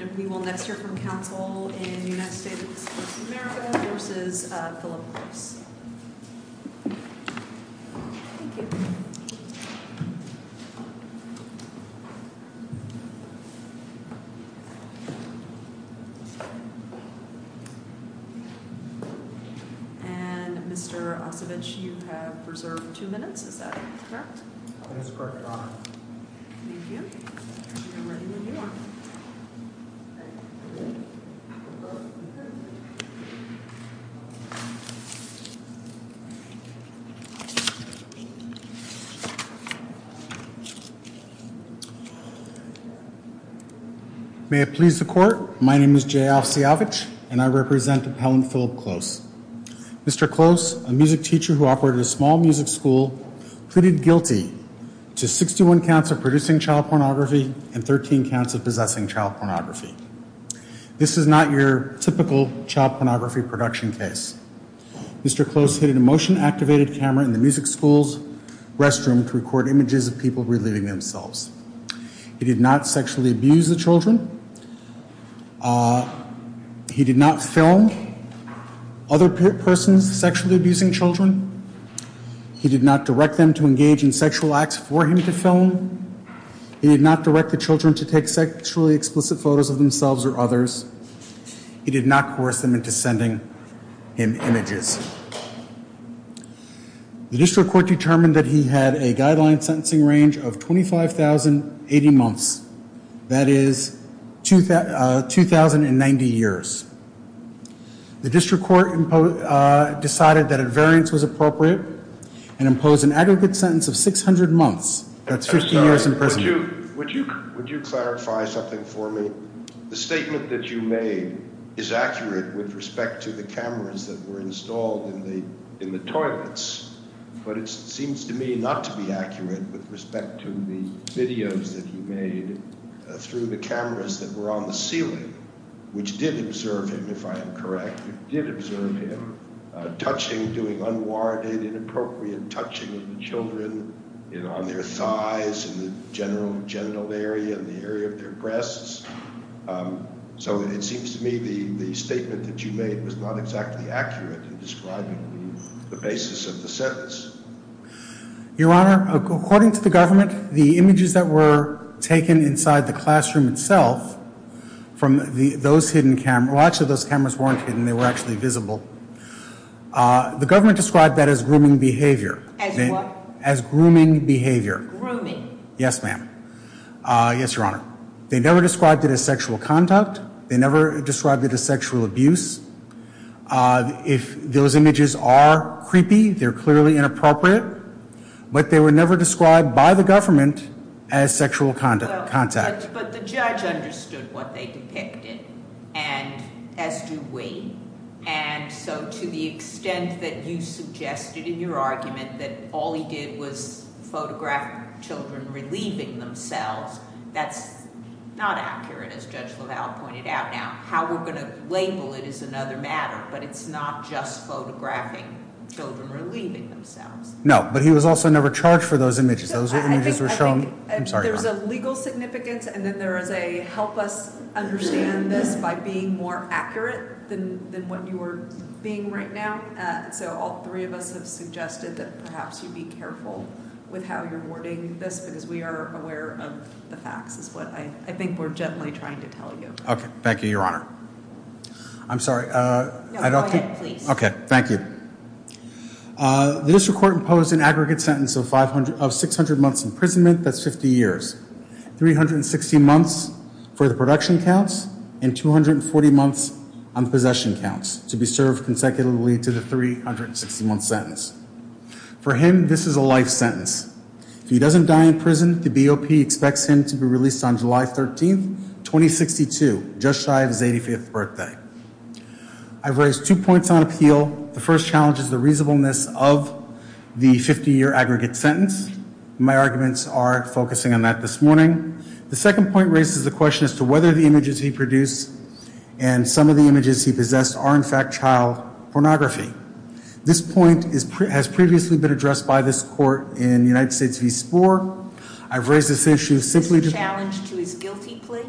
And we will next hear from counsel in the United States v. America v. Philip Gross. And Mr. Ossovitch, you have reserved two minutes. Is that correct? That is correct, Your Honor. May it please the court. My name is Jay Ossovitch and I represent Appellant Philip Close. Mr. Close, a music teacher who operated a small music school, pleaded guilty to 61 counts of producing child pornography and 13 counts of possessing child pornography. This is not your typical child pornography production case. Mr. Close hid a motion activated camera in the music school's restroom to record images of people relieving themselves. He did not film other persons sexually abusing children. He did not direct them to engage in sexual acts for him to film. He did not direct the children to take sexually explicit photos of themselves or others. He did not coerce them into sending him images. The district court determined that he had a guideline sentencing range of 25,080 months. That is 2,090 years. The district court decided that a variance was appropriate and imposed an aggregate sentence of 600 months. That's 50 years in prison. Would you clarify something for me? The statement that you made is accurate with respect to the cameras that were installed in the toilets, but it seems to me not to be accurate with respect to the videos that you made through the cameras that were on the ceiling, which did observe him, if I am correct. It did observe him touching, doing unwarranted, inappropriate touching of the children on their thighs, in the general genital area, in the area of their breasts. So it seems to me the statement that you made was not exactly accurate in describing the basis of the sentence. Your Honor, according to the government, the images that were taken inside the classroom itself from those hidden cameras, well, actually those cameras weren't hidden, they were actually visible. The government described that as grooming behavior. As what? As grooming behavior. Grooming. Yes, ma'am. Yes, Your Honor. They never described it as sexual conduct. They never described it as sexual abuse. If those images are creepy, they're clearly inappropriate. But they were never described by the government as sexual contact. But the judge understood what they depicted, and as do we. And so to the extent that you suggested in your argument that all he did was photograph children relieving themselves, that's not accurate, as Judge LaValle pointed out. Now, how we're going to label it is another matter, but it's not just photographing children relieving themselves. No, but he was also never charged for those images. Those images were shown. There's a legal significance, and then there is a help us understand this by being more accurate than what you are being right now. So all three of us have suggested that perhaps you be careful with how you're wording this, because we are aware of the facts is what I think we're generally trying to tell you. Okay. Thank you, Your Honor. I'm sorry. No, go ahead, please. Okay. Thank you. The district court imposed an aggregate sentence of 600 months imprisonment. That's 50 years. 360 months for the production counts and 240 months on possession counts to be served consecutively to the 360-month sentence. For him, this is a life sentence. If he doesn't die in prison, the BOP expects him to be released on July 13, 2062, just shy of his 85th birthday. I've raised two points on appeal. The first challenge is the reasonableness of the 50-year aggregate sentence. My arguments are focusing on that this morning. The second point raises the question as to whether the images he produced and some of the images he possessed are, in fact, child pornography. This point has previously been addressed by this court in United States v. Spoor. I've raised this issue simply to – Is this a challenge to his guilty plea?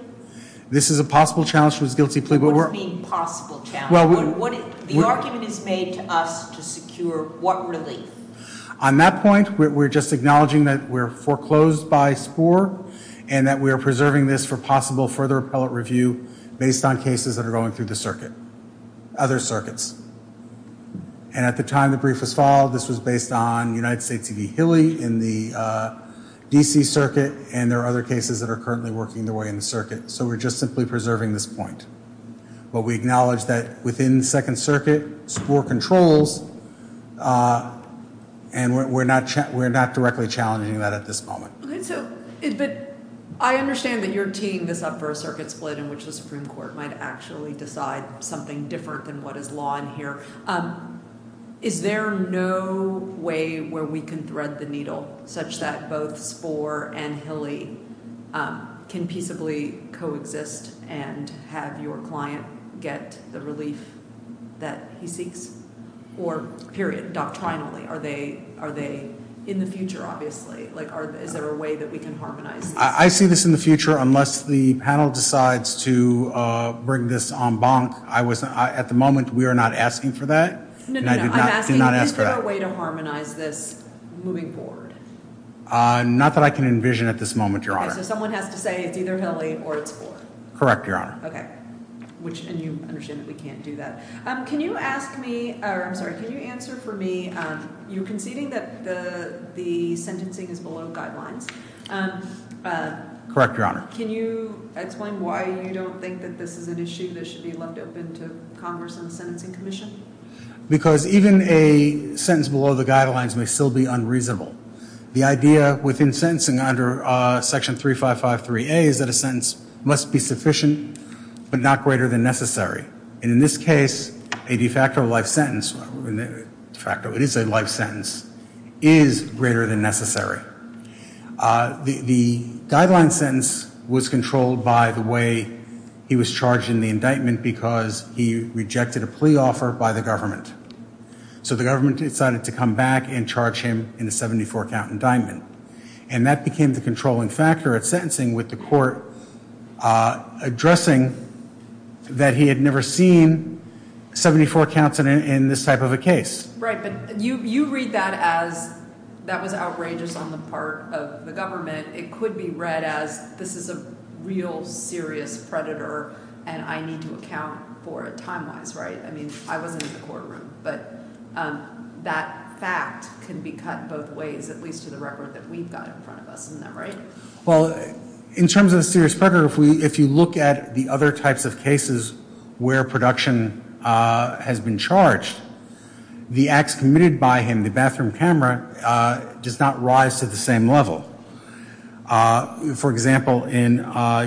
This is a possible challenge to his guilty plea. What do you mean possible challenge? The argument is made to us to secure what relief? On that point, we're just acknowledging that we're foreclosed by Spoor and that we are preserving this for possible further appellate review based on cases that are going through the circuit. Other circuits. And at the time the brief was filed, this was based on United States v. Hilly in the D.C. circuit, and there are other cases that are currently working their way in the circuit. So we're just simply preserving this point. But we acknowledge that within the Second Circuit, Spoor controls, and we're not directly challenging that at this moment. But I understand that you're teeing this up for a circuit split in which the Supreme Court might actually decide something different than what is law in here. Is there no way where we can thread the needle such that both Spoor and Hilly can peaceably coexist and have your client get the relief that he seeks? Or, period, doctrinally, are they in the future, obviously? Is there a way that we can harmonize this? I see this in the future unless the panel decides to bring this en banc. At the moment, we are not asking for that. I'm asking, is there a way to harmonize this moving forward? Not that I can envision at this moment, Your Honor. Okay, so someone has to say it's either Hilly or it's Spoor. Correct, Your Honor. Okay. And you understand that we can't do that. Can you answer for me, you're conceding that the sentencing is below guidelines. Correct, Your Honor. Can you explain why you don't think that this is an issue that should be left open to Congress and the Sentencing Commission? Because even a sentence below the guidelines may still be unreasonable. The idea within sentencing under Section 3553A is that a sentence must be sufficient but not greater than necessary. And in this case, a de facto life sentence, it is a life sentence, is greater than necessary. The guideline sentence was controlled by the way he was charged in the indictment because he rejected a plea offer by the government. So the government decided to come back and charge him in a 74-count indictment. And that became the controlling factor at sentencing with the court addressing that he had never seen 74 counts in this type of a case. Right, but you read that as that was outrageous on the part of the government. It could be read as this is a real serious predator and I need to account for it time-wise, right? I mean, I wasn't in the courtroom. But that fact can be cut both ways, at least to the record that we've got in front of us. Isn't that right? Well, in terms of the serious predator, if you look at the other types of cases where production has been charged, the acts committed by him, the bathroom camera, does not rise to the same level. For example, in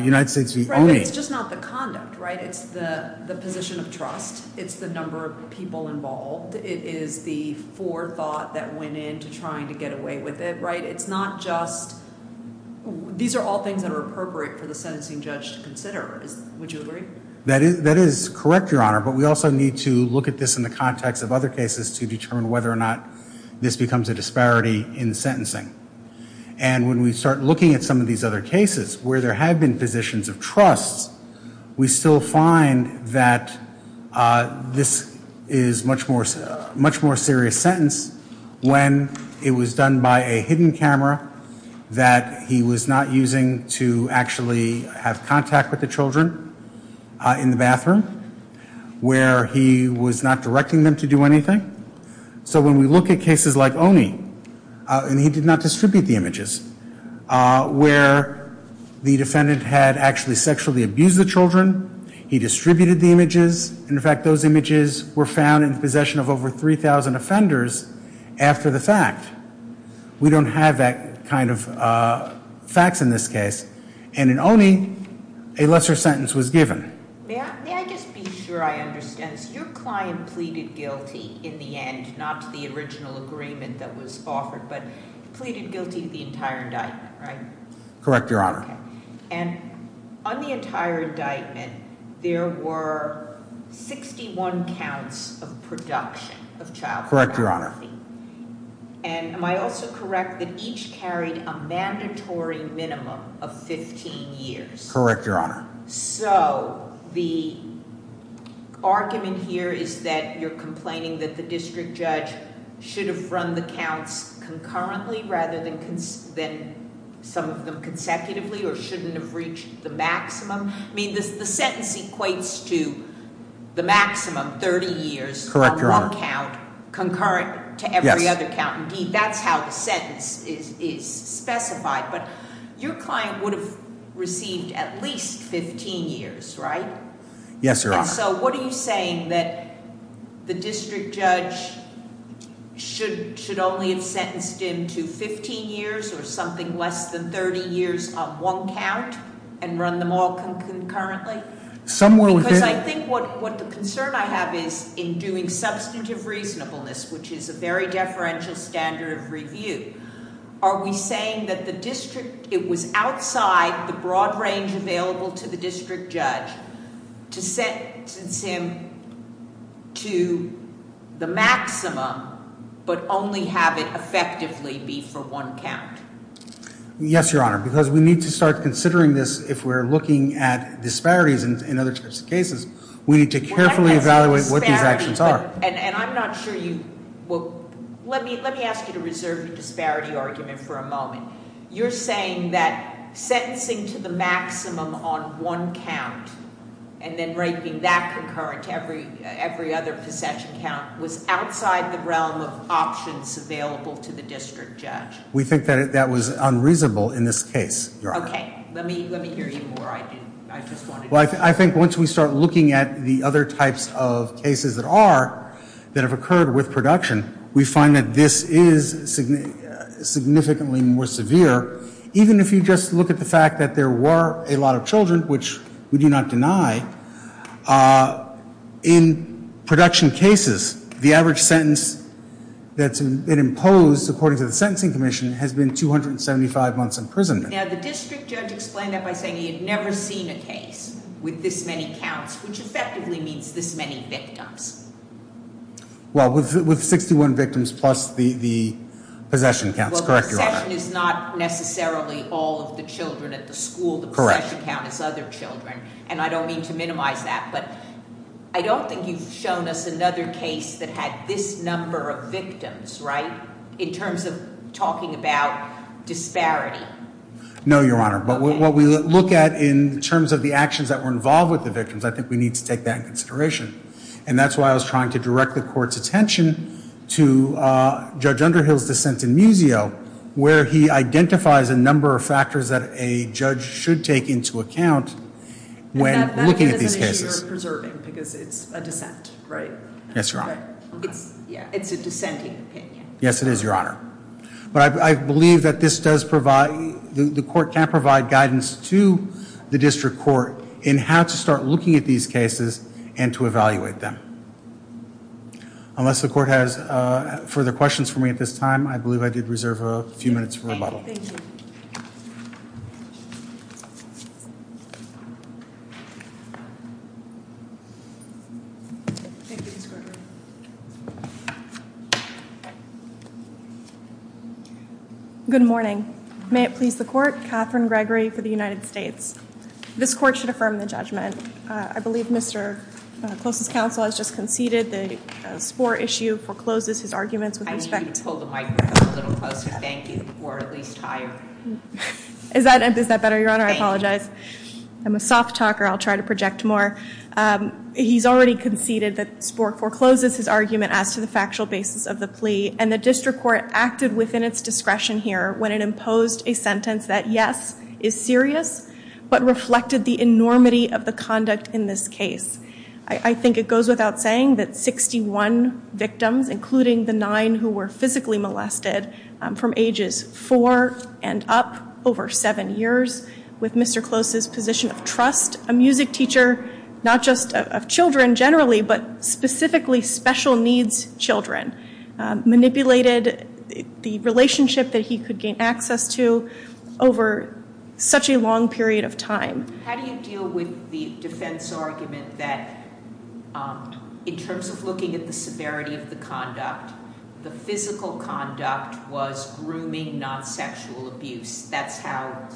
United States v. ONI. Right, but it's just not the conduct, right? It's the position of trust. It's the number of people involved. It is the forethought that went into trying to get away with it, right? These are all things that are appropriate for the sentencing judge to consider. Would you agree? That is correct, Your Honor. But we also need to look at this in the context of other cases to determine whether or not this becomes a disparity in sentencing. And when we start looking at some of these other cases where there have been positions of trust, we still find that this is a much more serious sentence when it was done by a hidden camera that he was not using to actually have contact with the children in the bathroom where he was not directing them to do anything. So when we look at cases like ONI, and he did not distribute the images, where the defendant had actually sexually abused the children, he distributed the images. In fact, those images were found in possession of over 3,000 offenders after the fact. We don't have that kind of facts in this case. And in ONI, a lesser sentence was given. May I just be sure I understand? Your client pleaded guilty in the end, not to the original agreement that was offered, but pleaded guilty to the entire indictment, right? Correct, Your Honor. And on the entire indictment, there were 61 counts of production of child pornography. Correct, Your Honor. And am I also correct that each carried a mandatory minimum of 15 years? Correct, Your Honor. So the argument here is that you're complaining that the district judge should have run the counts concurrently, rather than some of them consecutively, or shouldn't have reached the maximum? I mean, the sentence equates to the maximum, 30 years- Correct, Your Honor. On one count, concurrent to every other count. Indeed, that's how the sentence is specified. But your client would have received at least 15 years, right? Yes, Your Honor. So what are you saying, that the district judge should only have sentenced him to 15 years, or something less than 30 years on one count, and run them all concurrently? Somewhere within- Because I think what the concern I have is, in doing substantive reasonableness, which is a very deferential standard of review, are we saying that it was outside the broad range available to the district judge to sentence him to the maximum, but only have it effectively be for one count? Yes, Your Honor. Because we need to start considering this if we're looking at disparities in other types of cases. We need to carefully evaluate what these actions are. And I'm not sure you- Well, let me ask you to reserve the disparity argument for a moment. You're saying that sentencing to the maximum on one count, and then rating that concurrent to every other possession count, was outside the realm of options available to the district judge? We think that that was unreasonable in this case, Your Honor. Well, I think once we start looking at the other types of cases that are, that have occurred with production, we find that this is significantly more severe. Even if you just look at the fact that there were a lot of children, which we do not deny, in production cases, the average sentence that's been imposed, according to the Sentencing Commission, has been 275 months imprisonment. Now, the district judge explained that by saying he had never seen a case with this many counts, which effectively means this many victims. Well, with 61 victims plus the possession counts, correct, Your Honor? Well, possession is not necessarily all of the children at the school. Correct. The possession count is other children, and I don't mean to minimize that. But I don't think you've shown us another case that had this number of victims, right, in terms of talking about disparity. No, Your Honor. But what we look at in terms of the actions that were involved with the victims, I think we need to take that into consideration. And that's why I was trying to direct the Court's attention to Judge Underhill's dissent in Muzio, where he identifies a number of factors that a judge should take into account when looking at these cases. But that isn't an issue you're preserving, because it's a dissent, right? Yes, Your Honor. It's a dissenting opinion. Yes, it is, Your Honor. But I believe that this does provide, the Court can provide guidance to the District Court in how to start looking at these cases and to evaluate them. Unless the Court has further questions for me at this time, I believe I did reserve a few minutes for rebuttal. Thank you. Thank you, Mr. Gregory. Good morning. May it please the Court, Catherine Gregory for the United States. This Court should affirm the judgment. I believe Mr. Clos' counsel has just conceded the spore issue forecloses his arguments with respect to I need you to pull the microphone a little closer. Thank you. Or at least higher. Is that better, Your Honor? Thank you. I apologize. I'm a soft talker. I'll try to project more. He's already conceded that spore forecloses his argument as to the factual basis of the plea, and the District Court acted within its discretion here when it imposed a sentence that, yes, is serious, but reflected the enormity of the conduct in this case. I think it goes without saying that 61 victims, including the nine who were physically molested, from ages four and up, over seven years, with Mr. Clos' position of trust, a music teacher, not just of children generally, but specifically special needs children, manipulated the relationship that he could gain access to over such a long period of time. How do you deal with the defense argument that, in terms of looking at the severity of the conduct, the physical conduct was grooming, not sexual abuse? That's how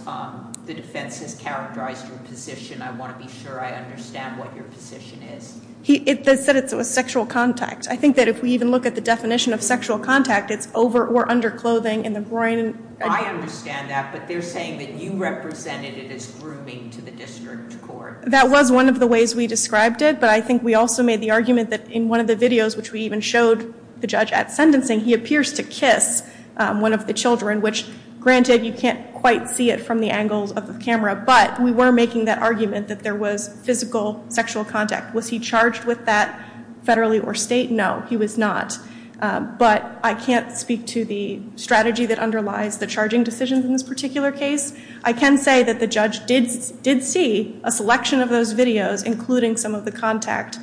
the defense has characterized your position. I want to be sure I understand what your position is. They said it was sexual contact. I think that if we even look at the definition of sexual contact, it's over or under clothing in the groin. I understand that, but they're saying that you represented it as grooming to the District Court. That was one of the ways we described it, but I think we also made the argument that in one of the videos, which we even showed the judge at sentencing, he appears to kiss one of the children, which, granted, you can't quite see it from the angles of the camera, but we were making that argument that there was physical sexual contact. Was he charged with that federally or state? No, he was not. But I can't speak to the strategy that underlies the charging decisions in this particular case. I can say that the judge did see a selection of those videos, including some of the contact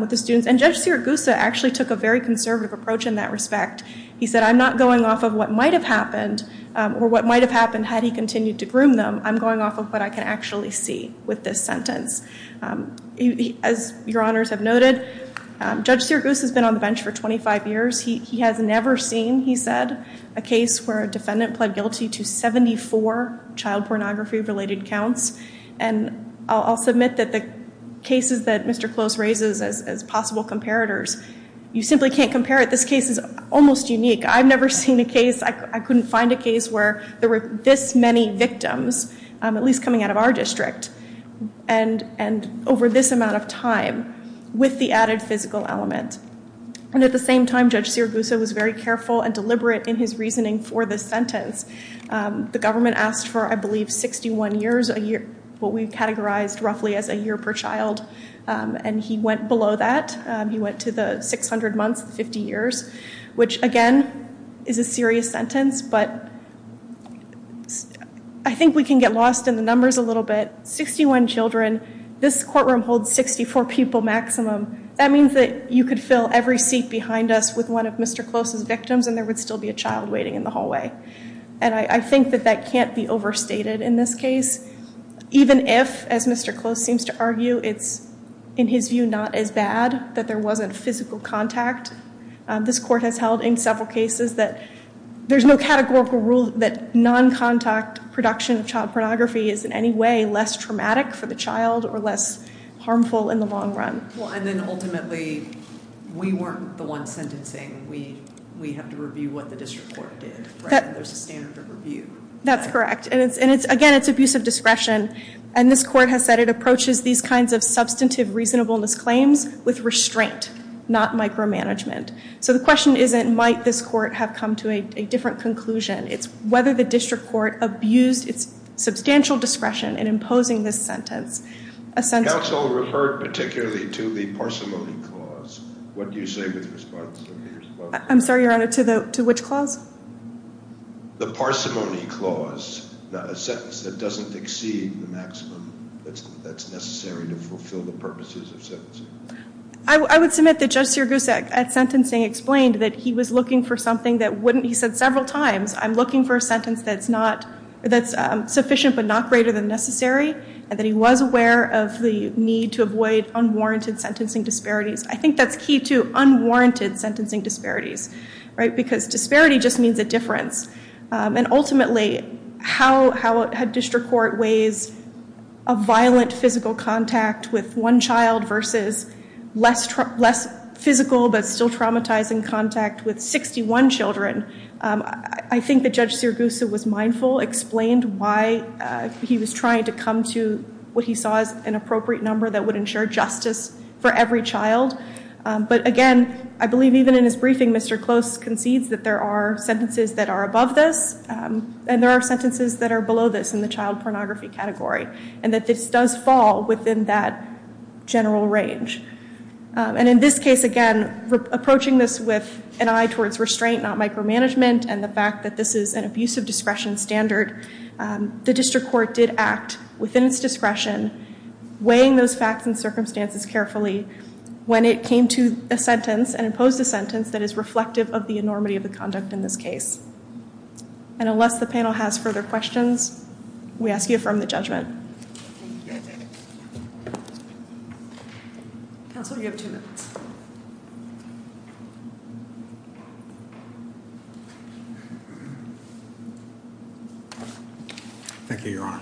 with the students, and Judge Sirigusa actually took a very conservative approach in that respect. He said, I'm not going off of what might have happened or what might have happened had he continued to groom them. I'm going off of what I can actually see with this sentence. As your honors have noted, Judge Sirigusa has been on the bench for 25 years. He has never seen, he said, a case where a defendant pled guilty to 74 child pornography-related counts, and I'll submit that the cases that Mr. Close raises as possible comparators, you simply can't compare it. This case is almost unique. I've never seen a case, I couldn't find a case where there were this many victims, at least coming out of our district, and over this amount of time with the added physical element. And at the same time, Judge Sirigusa was very careful and deliberate in his reasoning for this sentence. The government asked for, I believe, 61 years, what we've categorized roughly as a year per child, and he went below that. He went to the 600 months, the 50 years, which, again, is a serious sentence, but I think we can get lost in the numbers a little bit. 61 children, this courtroom holds 64 people maximum. That means that you could fill every seat behind us with one of Mr. Close's victims and there would still be a child waiting in the hallway. And I think that that can't be overstated in this case, even if, as Mr. Close seems to argue, it's, in his view, not as bad that there wasn't physical contact. This court has held in several cases that there's no categorical rule that non-contact production of child pornography is in any way less traumatic for the child or less harmful in the long run. Well, and then ultimately, we weren't the ones sentencing. We have to review what the district court did. There's a standard of review. That's correct. And again, it's abuse of discretion. And this court has said it approaches these kinds of substantive reasonableness claims with restraint, not micromanagement. So the question isn't might this court have come to a different conclusion. It's whether the district court abused its substantial discretion in imposing this sentence. Counsel referred particularly to the parsimony clause. What do you say with response to the response? I'm sorry, Your Honor, to which clause? The parsimony clause, a sentence that doesn't exceed the maximum that's necessary to fulfill the purposes of sentencing. I would submit that Judge Sirigusa at sentencing explained that he was looking for something that wouldn't. He said several times, I'm looking for a sentence that's sufficient but not greater than necessary and that he was aware of the need to avoid unwarranted sentencing disparities. I think that's key to unwarranted sentencing disparities, right, because disparity just means a difference. And ultimately, how a district court weighs a violent physical contact with one child versus less physical but still traumatizing contact with 61 children, I think that Judge Sirigusa was mindful, explained why he was trying to come to what he saw as an appropriate number that would ensure justice for every child. But again, I believe even in his briefing, Mr. Close concedes that there are sentences that are above this and there are sentences that are below this in the child pornography category and that this does fall within that general range. And in this case, again, approaching this with an eye towards restraint, not micromanagement, and the fact that this is an abusive discretion standard, the district court did act within its discretion, weighing those facts and circumstances carefully when it came to a sentence and imposed a sentence that is reflective of the enormity of the conduct in this case. And unless the panel has further questions, we ask you affirm the judgment. Counsel, you have two minutes. Thank you, Your Honor.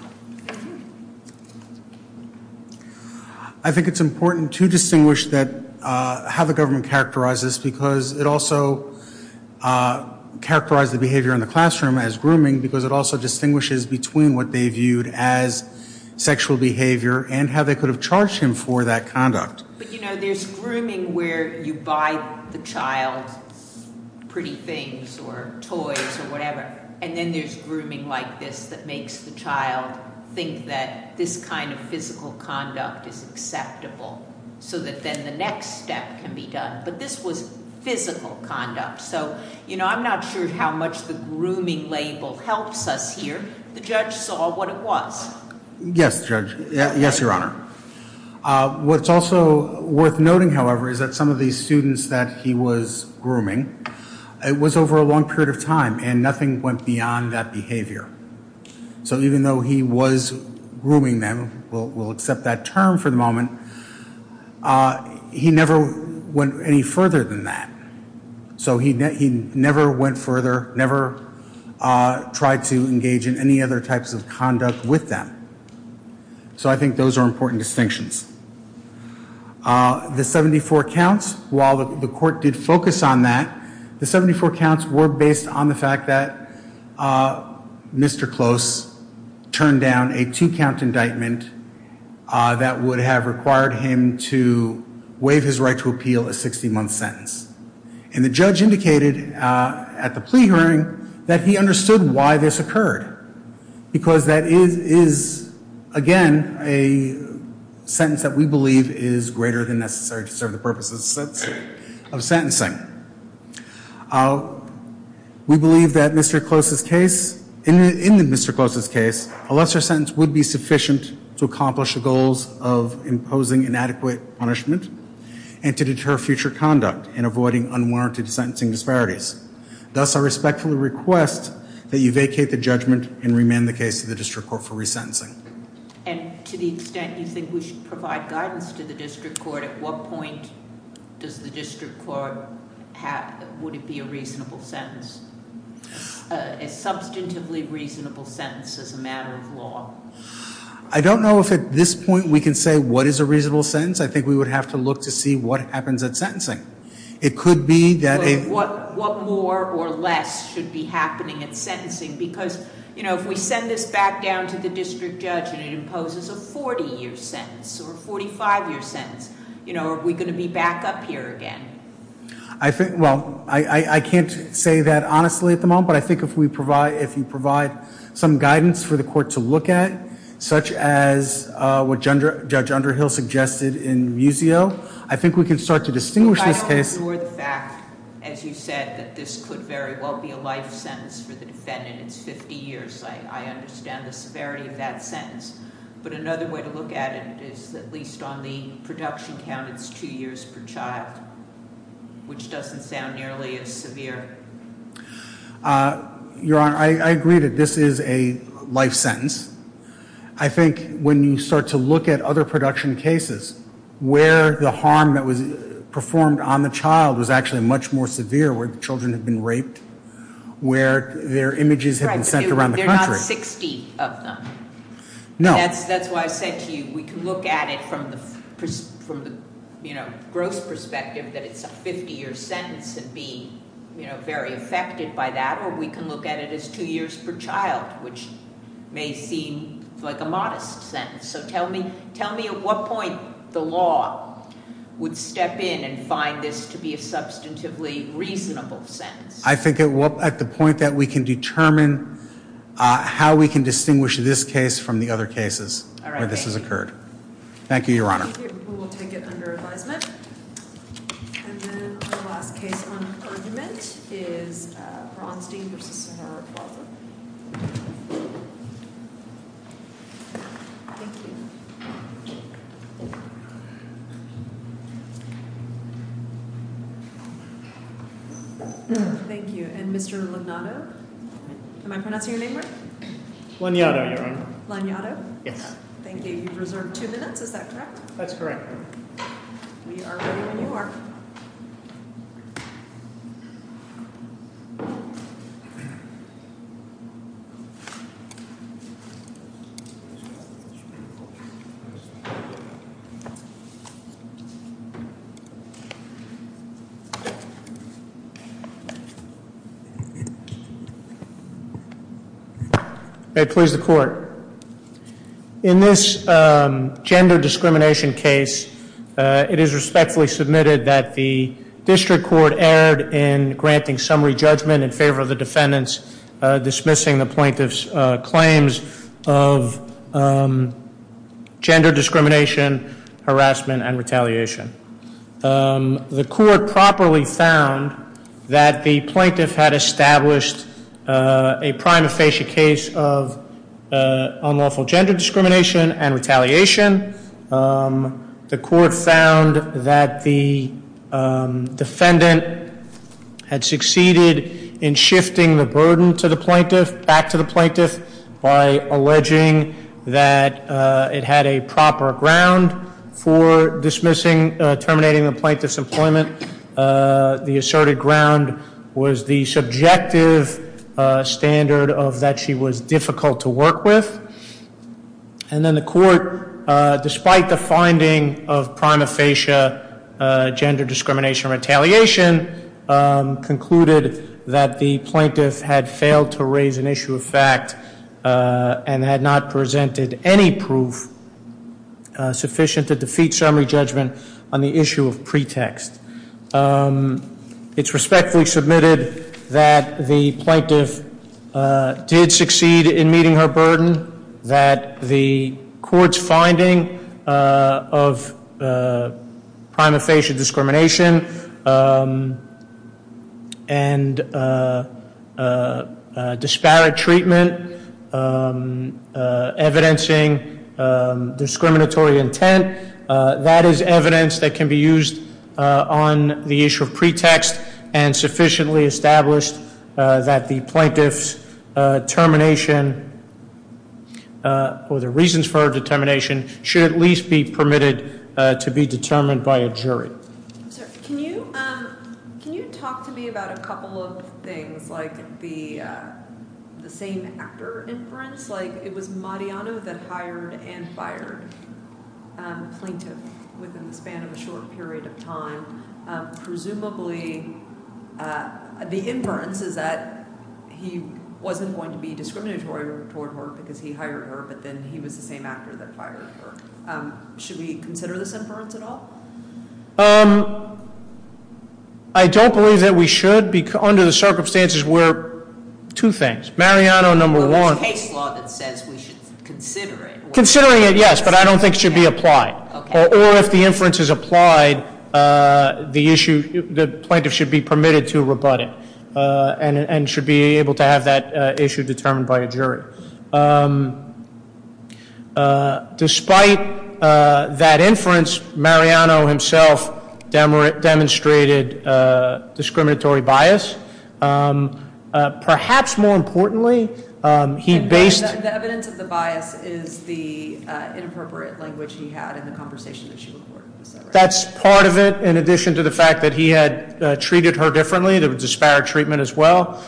I think it's important to distinguish how the government characterized this because it also characterized the behavior in the classroom as grooming because it also distinguishes between what they viewed as sexual behavior and how they could have charged him for that conduct. But, you know, there's grooming where you buy the child pretty things or toys or whatever, and then there's grooming like this that makes the child think that this kind of physical conduct is acceptable so that then the next step can be done. But this was physical conduct. So, you know, I'm not sure how much the grooming label helps us here. The judge saw what it was. Yes, Judge. Yes, Your Honor. What's also worth noting, however, is that some of these students that he was grooming, it was over a long period of time and nothing went beyond that behavior. So even though he was grooming them, we'll accept that term for the moment, he never went any further than that. So he never went further, never tried to engage in any other types of conduct with them. So I think those are important distinctions. The 74 counts, while the court did focus on that, the 74 counts were based on the fact that Mr. Close turned down a two-count indictment that would have required him to waive his right to appeal a 60-month sentence. And the judge indicated at the plea hearing that he understood why this occurred because that is, again, a sentence that we believe is greater than necessary to serve the purposes of sentencing. We believe that in Mr. Close's case, a lesser sentence would be sufficient to accomplish the goals of imposing inadequate punishment and to deter future conduct in avoiding unwarranted sentencing disparities. Thus, I respectfully request that you vacate the judgment and remand the case to the district court for resentencing. And to the extent you think we should provide guidance to the district court, at what point does the district court have, would it be a reasonable sentence, a substantively reasonable sentence as a matter of law? I don't know if at this point we can say what is a reasonable sentence. I think we would have to look to see what happens at sentencing. It could be that a- What more or less should be happening at sentencing? Because, you know, if we send this back down to the district judge and it imposes a 40-year sentence or a 45-year sentence, you know, are we going to be back up here again? I think, well, I can't say that honestly at the moment, but I think if we provide, if you provide some guidance for the court to look at, such as what Judge Underhill suggested in Muzio, I think we can start to distinguish this case- If I don't ignore the fact, as you said, that this could very well be a life sentence for the defendant. It's 50 years. I understand the severity of that sentence. But another way to look at it is, at least on the production count, it's two years per child, which doesn't sound nearly as severe. Your Honor, I agree that this is a life sentence. I think when you start to look at other production cases where the harm that was performed on the child was actually much more severe, where the children had been raped, where their images had been sent around the country- Right, but they're not 60 of them. No. That's why I said to you we can look at it from the gross perspective that it's a 50-year sentence and be very affected by that, or we can look at it as two years per child, which may seem like a modest sentence. So tell me at what point the law would step in and find this to be a substantively reasonable sentence? I think at the point that we can determine how we can distinguish this case from the other cases where this has occurred. All right. Thank you. Thank you, Your Honor. We will take it under advisement. And then our last case on argument is Bronstein v. Sahara Plaza. Thank you. Thank you. And Mr. Lugnato? Am I pronouncing your name right? Lugnato, Your Honor. Lugnato? Yes. Thank you. You've reserved two minutes, is that correct? That's correct. We are ready when you are. Thank you. May it please the Court. In this gender discrimination case, it is respectfully submitted that the District Court erred in granting summary judgment in favor of the defendants dismissing the plaintiff's claims of gender discrimination, harassment, and retaliation. The Court properly found that the plaintiff had established a prima facie case of unlawful gender discrimination and retaliation. The Court found that the defendant had succeeded in shifting the burden to the plaintiff, by alleging that it had a proper ground for dismissing, terminating the plaintiff's employment. The asserted ground was the subjective standard of that she was difficult to work with. And then the Court, despite the finding of prima facie gender discrimination and retaliation, concluded that the plaintiff had failed to raise an issue of fact and had not presented any proof sufficient to defeat summary judgment on the issue of pretext. It's respectfully submitted that the plaintiff did succeed in meeting her burden, that the Court's finding of prima facie discrimination and disparate treatment evidencing discriminatory intent, that is evidence that can be used on the issue of pretext and sufficiently established that the plaintiff's termination or the reasons for her determination should at least be permitted to be determined by a jury. Can you talk to me about a couple of things like the same actor inference? Like it was Mariano that hired and fired the plaintiff within the span of a short period of time. Presumably, the inference is that he wasn't going to be discriminatory toward her because he hired her, but then he was the same actor that fired her. Should we consider this inference at all? I don't believe that we should. Under the circumstances, we're two things. Mariano, number one- Well, it's case law that says we should consider it. Considering it, yes, but I don't think it should be applied. Or if the inference is applied, the plaintiff should be permitted to rebut it and should be able to have that issue determined by a jury. Despite that inference, Mariano himself demonstrated discriminatory bias. Perhaps more importantly, he based- The evidence of the bias is the inappropriate language he had in the conversation that she recorded. That's part of it, in addition to the fact that he had treated her differently. There was disparate treatment as well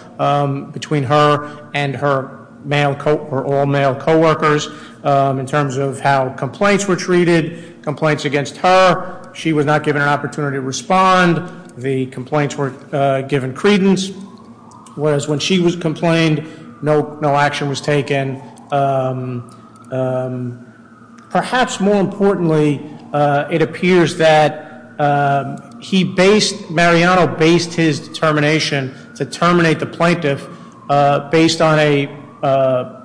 between her and her all-male coworkers in terms of how complaints were treated, complaints against her. She was not given an opportunity to respond. The complaints were given credence. Whereas when she was complained, no action was taken. Perhaps more importantly, it appears that he based- Mariano based his determination to terminate the plaintiff based on a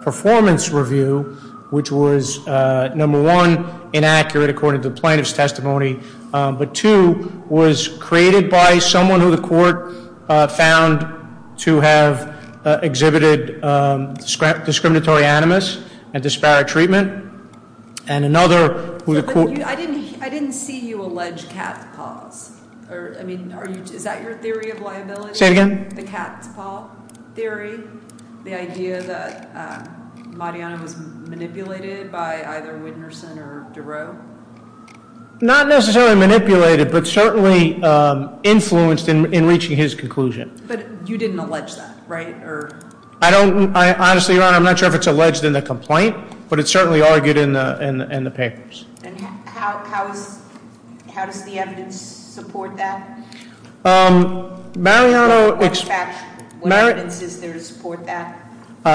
performance review, which was, number one, inaccurate according to the plaintiff's testimony, but, two, was created by someone who the court found to have exhibited discriminatory animus and disparate treatment. And another- I didn't see you allege cat's paws. I mean, is that your theory of liability? Say it again. The cat's paw theory? The idea that Mariano was manipulated by either Winterson or Durow? Not necessarily manipulated, but certainly influenced in reaching his conclusion. But you didn't allege that, right? I don't. Honestly, Your Honor, I'm not sure if it's alleged in the complaint, but it's certainly argued in the papers. And how does the evidence support that? Mariano- What evidence is there to support that?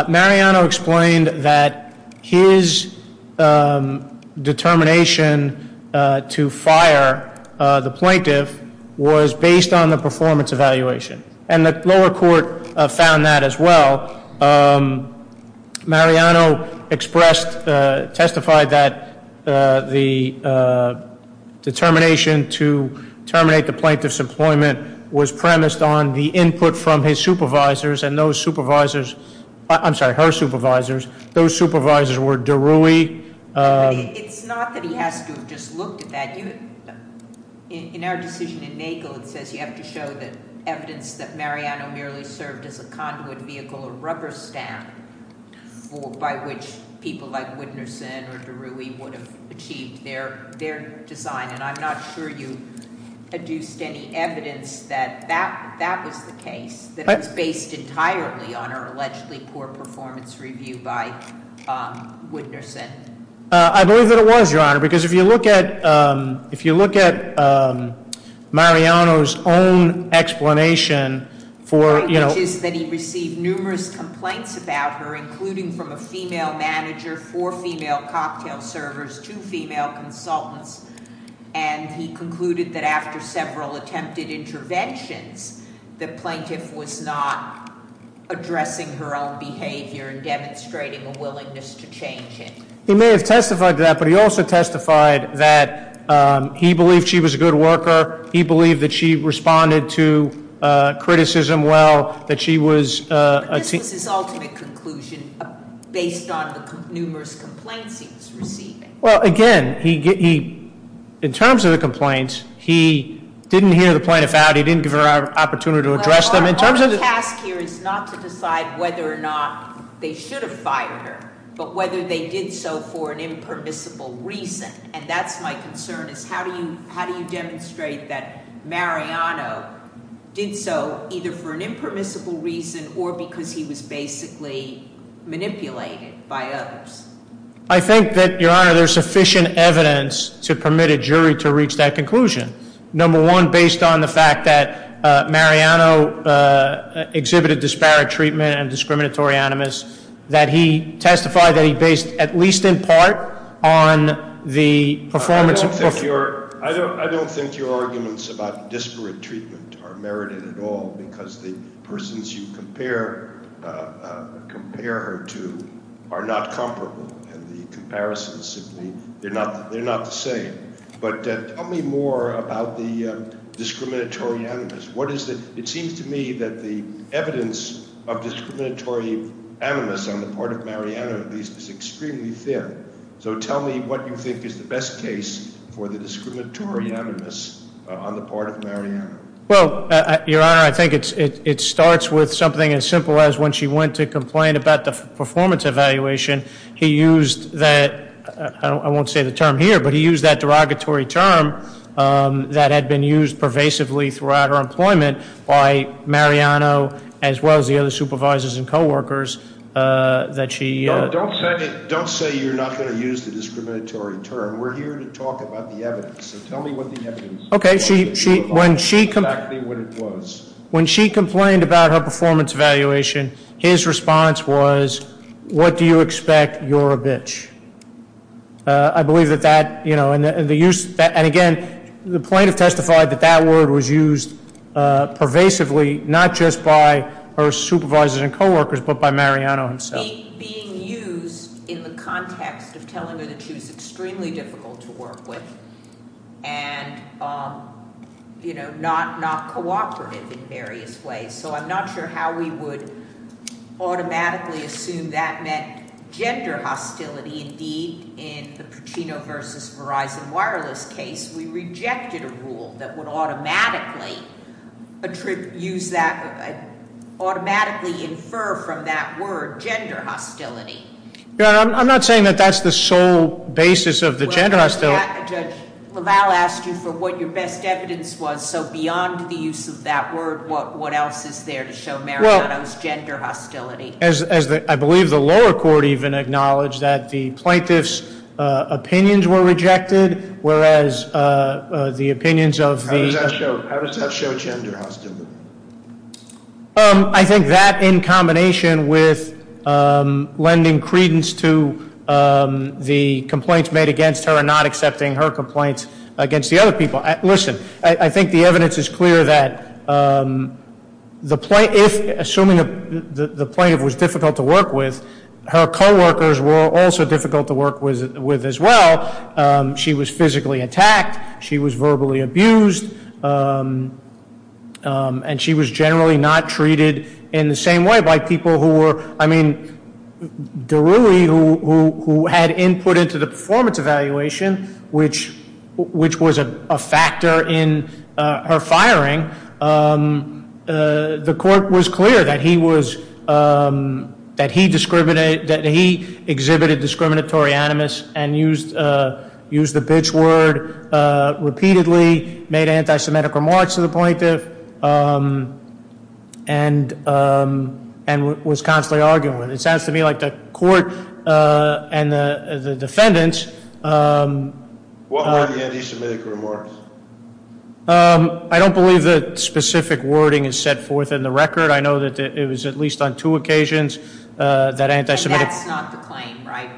Mariano explained that his determination to fire the plaintiff was based on the performance evaluation, and the lower court found that as well. Mariano expressed, testified that the determination to terminate the plaintiff's employment was premised on the input from his supervisors, and those supervisors-I'm sorry, her supervisors-those supervisors were Durow. It's not that he has to have just looked at that. In our decision in Nagel, it says you have to show the evidence that Mariano merely served as a conduit vehicle, a rubber stamp, by which people like Winterson or Durow would have achieved their design. And I'm not sure you produced any evidence that that was the case, that it was based entirely on her allegedly poor performance review by Winterson. I believe that it was, Your Honor, because if you look at Mariano's own explanation for- It is that he received numerous complaints about her, including from a female manager, four female cocktail servers, two female consultants. And he concluded that after several attempted interventions, the plaintiff was not addressing her own behavior and demonstrating a willingness to change it. He may have testified to that, but he also testified that he believed she was a good worker. He believed that she responded to criticism well, that she was- But this was his ultimate conclusion based on the numerous complaints he was receiving. Well, again, in terms of the complaints, he didn't hear the plaintiff out. He didn't give her an opportunity to address them. Our task here is not to decide whether or not they should have fired her, but whether they did so for an impermissible reason. And that's my concern, is how do you demonstrate that Mariano did so, either for an impermissible reason or because he was basically manipulated by others? I think that, Your Honor, there's sufficient evidence to permit a jury to reach that conclusion. Number one, based on the fact that Mariano exhibited disparate treatment and discriminatory animus, that he testified that he based at least in part on the performance of- I don't think your arguments about disparate treatment are merited at all, because the persons you compare her to are not comparable. And the comparisons simply, they're not the same. But tell me more about the discriminatory animus. It seems to me that the evidence of discriminatory animus on the part of Mariano, at least, is extremely thin. So tell me what you think is the best case for the discriminatory animus on the part of Mariano. Well, Your Honor, I think it starts with something as simple as when she went to complain about the performance evaluation, he used that, I won't say the term here, but he used that derogatory term that had been used pervasively throughout her employment by Mariano, as well as the other supervisors and coworkers that she- Don't say you're not going to use the discriminatory term. We're here to talk about the evidence. So tell me what the evidence is. Okay. When she complained about her performance evaluation, his response was, what do you expect? You're a bitch. I believe that that, and again, the plaintiff testified that that word was used pervasively, not just by her supervisors and coworkers, but by Mariano himself. Being used in the context of telling her that she was extremely difficult to work with, and not cooperative in various ways. So I'm not sure how we would automatically assume that meant gender hostility. Indeed, in the Pacino versus Verizon Wireless case, we rejected a rule that would automatically use that, automatically infer from that word gender hostility. Your Honor, I'm not saying that that's the sole basis of the gender hostility. Judge LaValle asked you for what your best evidence was. So beyond the use of that word, what else is there to show Mariano's gender hostility? I believe the lower court even acknowledged that the plaintiff's opinions were rejected, whereas the opinions of the- How does that show gender hostility? I think that in combination with lending credence to the complaints made against her and not accepting her complaints against the other people. Listen, I think the evidence is clear that assuming the plaintiff was difficult to work with, her coworkers were also difficult to work with as well. She was physically attacked. She was verbally abused. And she was generally not treated in the same way by people who were- in her firing. The court was clear that he exhibited discriminatory animus and used the bitch word repeatedly, made anti-Semitic remarks to the plaintiff, and was constantly arguing with her. It sounds to me like the court and the defendants- What were the anti-Semitic remarks? I don't believe that specific wording is set forth in the record. I know that it was at least on two occasions that anti-Semitic- That's not the claim, right?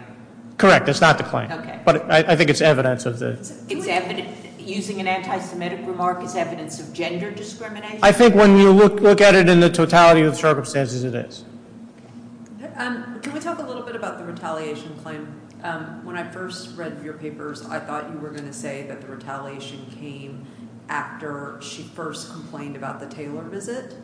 Correct, that's not the claim. Okay. But I think it's evidence of the- Using an anti-Semitic remark is evidence of gender discrimination? I think when you look at it in the totality of circumstances, it is. Can we talk a little bit about the retaliation claim? When I first read your papers, I thought you were going to say that the retaliation came after she first complained about the Taylor visit.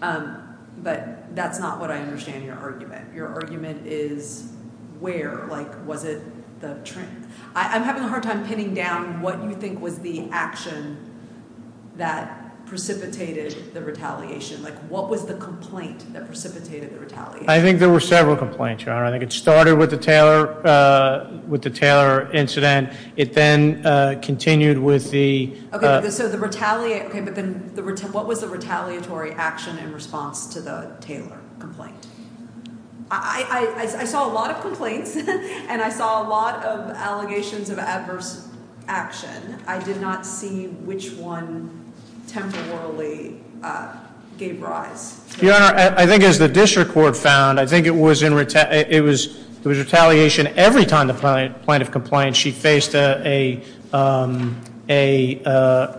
But that's not what I understand your argument. Your argument is where? Like, was it the- I'm having a hard time pinning down what you think was the action that precipitated the retaliation. Like, what was the complaint that precipitated the retaliation? I think there were several complaints, Your Honor. I think it started with the Taylor incident. It then continued with the- Okay, but then what was the retaliatory action in response to the Taylor complaint? I saw a lot of complaints, and I saw a lot of allegations of adverse action. I did not see which one temporarily gave rise. Your Honor, I think as the district court found, I think it was retaliation every time the plaintiff complained. She faced a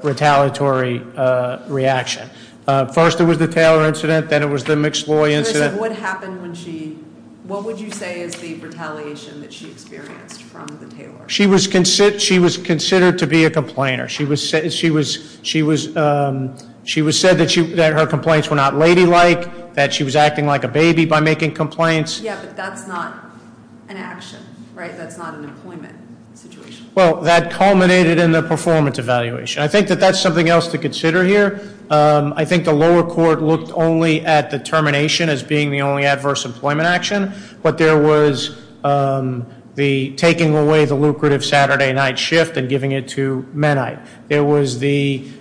retaliatory reaction. First, it was the Taylor incident. Then it was the McSloy incident. What would you say is the retaliation that she experienced from the Taylor? She was considered to be a complainer. She was said that her complaints were not ladylike, that she was acting like a baby by making complaints. Yeah, but that's not an action, right? That's not an employment situation. Well, that culminated in the performance evaluation. I think that that's something else to consider here. I think the lower court looked only at the termination as being the only adverse employment action. But there was the taking away the lucrative Saturday night shift and giving it to Mennite. There was the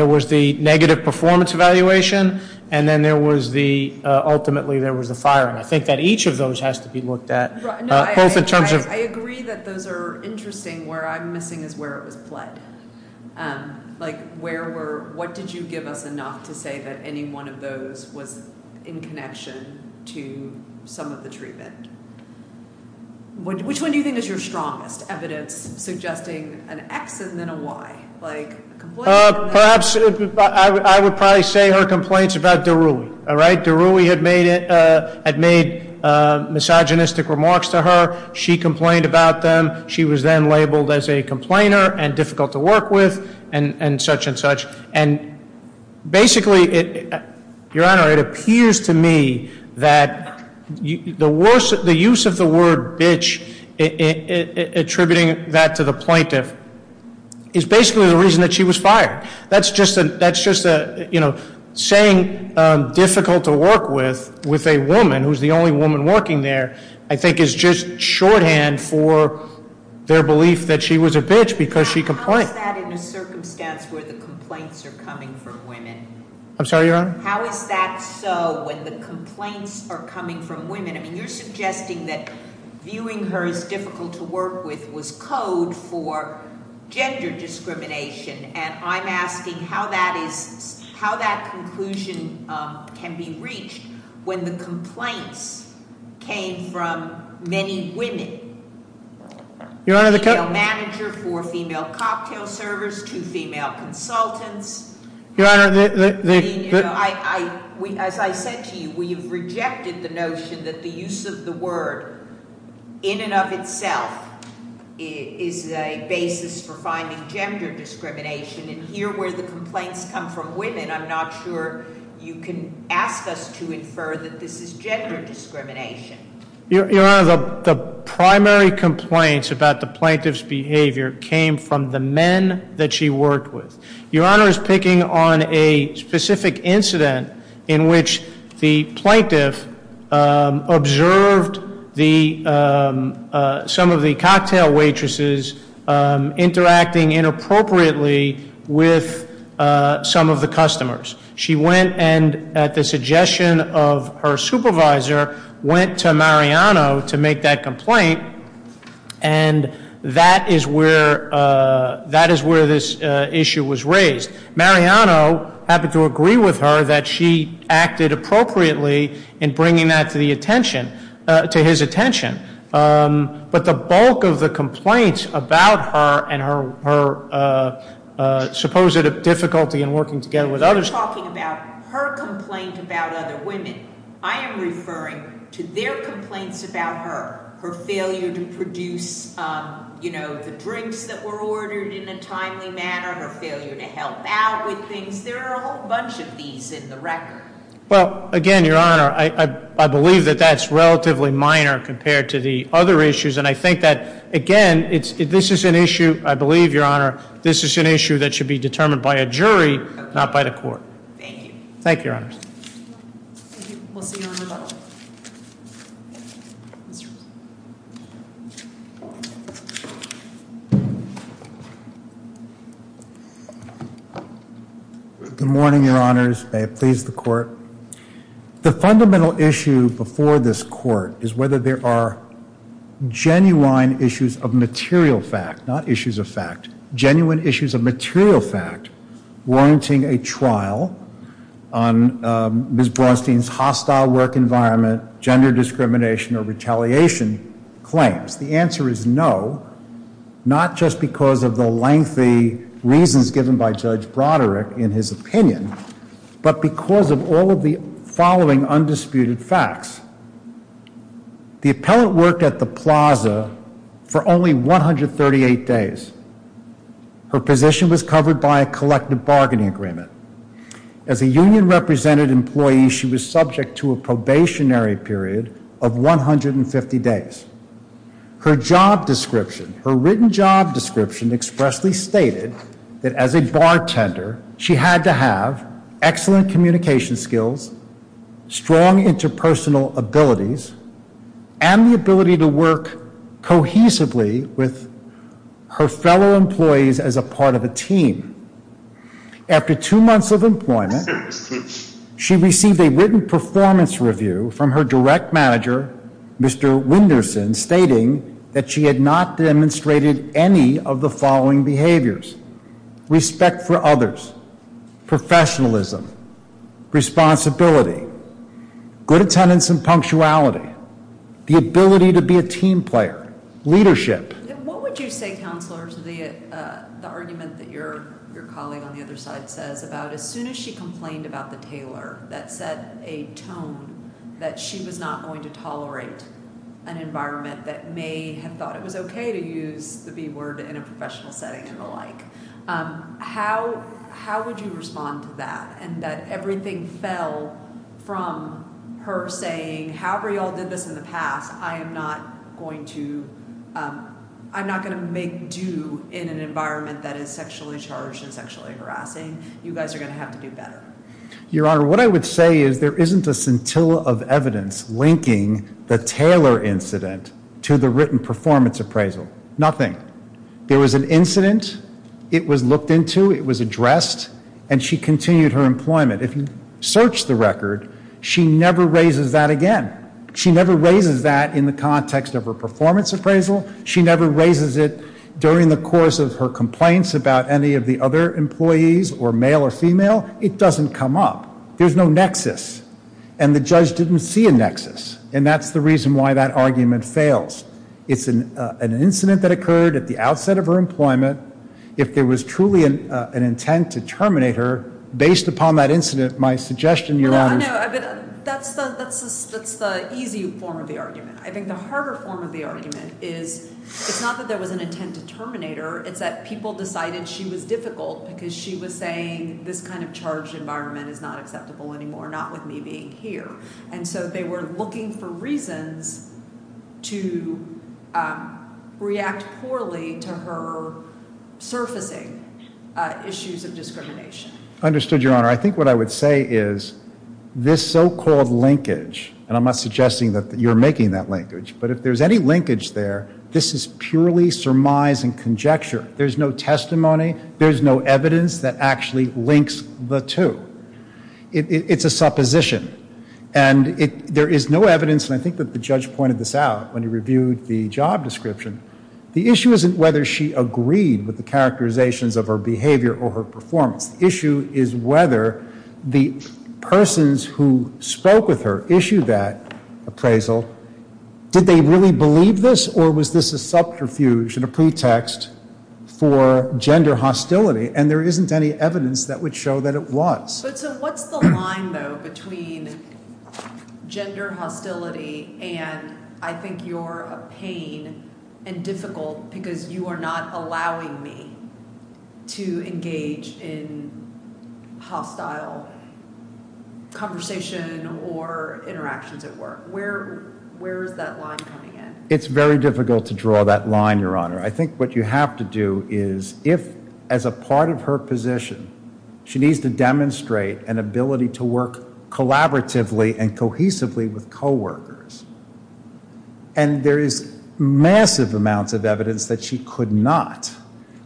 negative performance evaluation, and then ultimately there was the firing. I think that each of those has to be looked at. I agree that those are interesting. Where I'm missing is where it was pled. What did you give us enough to say that any one of those was in connection to some of the treatment? Which one do you think is your strongest evidence suggesting an X and then a Y? Perhaps I would probably say her complaints about Daruli. Daruli had made misogynistic remarks to her. She complained about them. She was then labeled as a complainer and difficult to work with and such and such. And basically, Your Honor, it appears to me that the use of the word bitch attributing that to the plaintiff is basically the reason that she was fired. That's just a, you know, saying difficult to work with, with a woman who's the only woman working there, I think is just shorthand for their belief that she was a bitch because she complained. How is that in a circumstance where the complaints are coming from women? I'm sorry, Your Honor? How is that so when the complaints are coming from women? I mean, you're suggesting that viewing her as difficult to work with was code for gender discrimination. And I'm asking how that is, how that conclusion can be reached when the complaints came from many women. Your Honor, the- A female manager for a female cocktail service, two female consultants. Your Honor, the- As I said to you, we have rejected the notion that the use of the word in and of itself is a basis for finding gender discrimination. And here where the complaints come from women, I'm not sure you can ask us to infer that this is gender discrimination. Your Honor, the primary complaints about the plaintiff's behavior came from the men that she worked with. Your Honor is picking on a specific incident in which the plaintiff observed some of the cocktail waitresses interacting inappropriately with some of the customers. She went and, at the suggestion of her supervisor, went to Mariano to make that complaint. And that is where this issue was raised. Mariano happened to agree with her that she acted appropriately in bringing that to his attention. But the bulk of the complaints about her and her supposed difficulty in working together with others- You're talking about her complaint about other women. I am referring to their complaints about her, her failure to produce the drinks that were ordered in a timely manner, her failure to help out with things. There are a whole bunch of these in the record. Well, again, Your Honor, I believe that that's relatively minor compared to the other issues. And I think that, again, this is an issue, I believe, Your Honor, this is an issue that should be determined by a jury, not by the court. Thank you. Thank you, Your Honor. Thank you. We'll see you in a little while. Good morning, Your Honors. May it please the Court. The fundamental issue before this Court is whether there are genuine issues of material fact, not issues of fact. Genuine issues of material fact warranting a trial on Ms. Braunstein's hostile work environment, gender discrimination, or retaliation claims. The answer is no, not just because of the lengthy reasons given by Judge Broderick in his opinion, but because of all of the following undisputed facts. The appellant worked at the plaza for only 138 days. Her position was covered by a collective bargaining agreement. As a union-represented employee, she was subject to a probationary period of 150 days. Her job description, her written job description expressly stated that as a bartender, she had to have excellent communication skills, strong interpersonal abilities, and the ability to work cohesively with her fellow employees as a part of a team. After two months of employment, she received a written performance review from her direct manager, Mr. Winderson, stating that she had not demonstrated any of the following behaviors. Respect for others, professionalism, responsibility, good attendance and punctuality, the ability to be a team player, leadership. What would you say, Counselor, to the argument that your colleague on the other side says about as soon as she complained about the tailor that set a tone that she was not going to tolerate an environment that may have thought it was okay to use the B word in a professional setting and the like. How would you respond to that and that everything fell from her saying, however you all did this in the past, I am not going to make do in an environment that is sexually charged and sexually harassing. You guys are going to have to do better. Your Honor, what I would say is there isn't a scintilla of evidence linking the tailor incident to the written performance appraisal. Nothing. There was an incident. It was looked into. It was addressed. And she continued her employment. If you search the record, she never raises that again. She never raises that in the context of her performance appraisal. She never raises it during the course of her complaints about any of the other employees or male or female. It doesn't come up. There's no nexus. And the judge didn't see a nexus. And that's the reason why that argument fails. It's an incident that occurred at the outset of her employment. If there was truly an intent to terminate her, based upon that incident, my suggestion, Your Honor. That's the easy form of the argument. I think the harder form of the argument is it's not that there was an intent to terminate her. It's that people decided she was difficult because she was saying this kind of charged environment is not acceptable anymore, not with me being here. And so they were looking for reasons to react poorly to her surfacing issues of discrimination. I understood, Your Honor. I think what I would say is this so-called linkage, and I'm not suggesting that you're making that linkage, but if there's any linkage there, this is purely surmise and conjecture. There's no testimony. There's no evidence that actually links the two. It's a supposition. And there is no evidence, and I think that the judge pointed this out when he reviewed the job description. The issue isn't whether she agreed with the characterizations of her behavior or her performance. The issue is whether the persons who spoke with her issued that appraisal. Did they really believe this, or was this a subterfuge and a pretext for gender hostility? And there isn't any evidence that would show that it was. But so what's the line, though, between gender hostility and I think you're a pain and difficult because you are not allowing me to engage in hostile conversation or interactions at work? Where is that line coming in? It's very difficult to draw that line, Your Honor. I think what you have to do is if, as a part of her position, she needs to demonstrate an ability to work collaboratively and cohesively with coworkers, and there is massive amounts of evidence that she could not,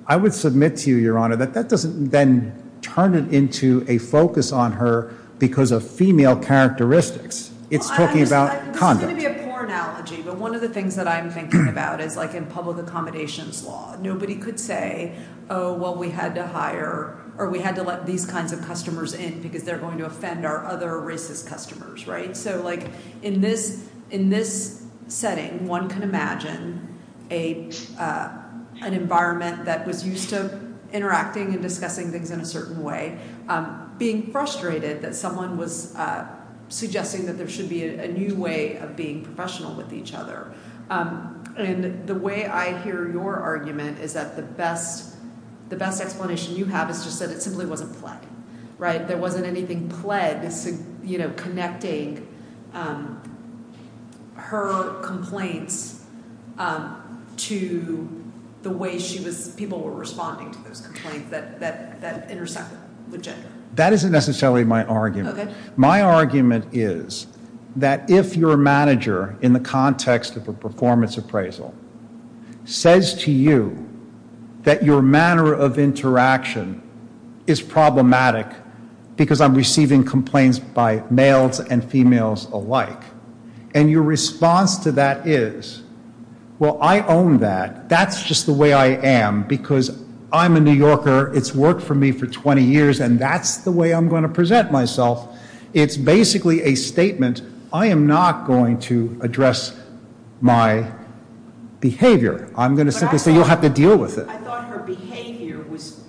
I would submit to you, Your Honor, that that doesn't then turn it into a focus on her because of female characteristics. It's talking about conduct. This is going to be a poor analogy, but one of the things that I'm thinking about is, like, in public accommodations law, nobody could say, oh, well, we had to hire or we had to let these kinds of customers in because they're going to offend our other racist customers. Right? So, like, in this setting, one can imagine an environment that was used to interacting and discussing things in a certain way, being frustrated that someone was suggesting that there should be a new way of being professional with each other. And the way I hear your argument is that the best explanation you have is just that it simply wasn't play. Right? You know, connecting her complaints to the way people were responding to those complaints that intersect with gender. That isn't necessarily my argument. Okay. That if your manager, in the context of a performance appraisal, says to you that your manner of interaction is problematic because I'm receiving complaints by males and females alike, and your response to that is, well, I own that. That's just the way I am because I'm a New Yorker. It's worked for me for 20 years, and that's the way I'm going to present myself. It's basically a statement, I am not going to address my behavior. I'm going to simply say you'll have to deal with it. I thought her behavior was,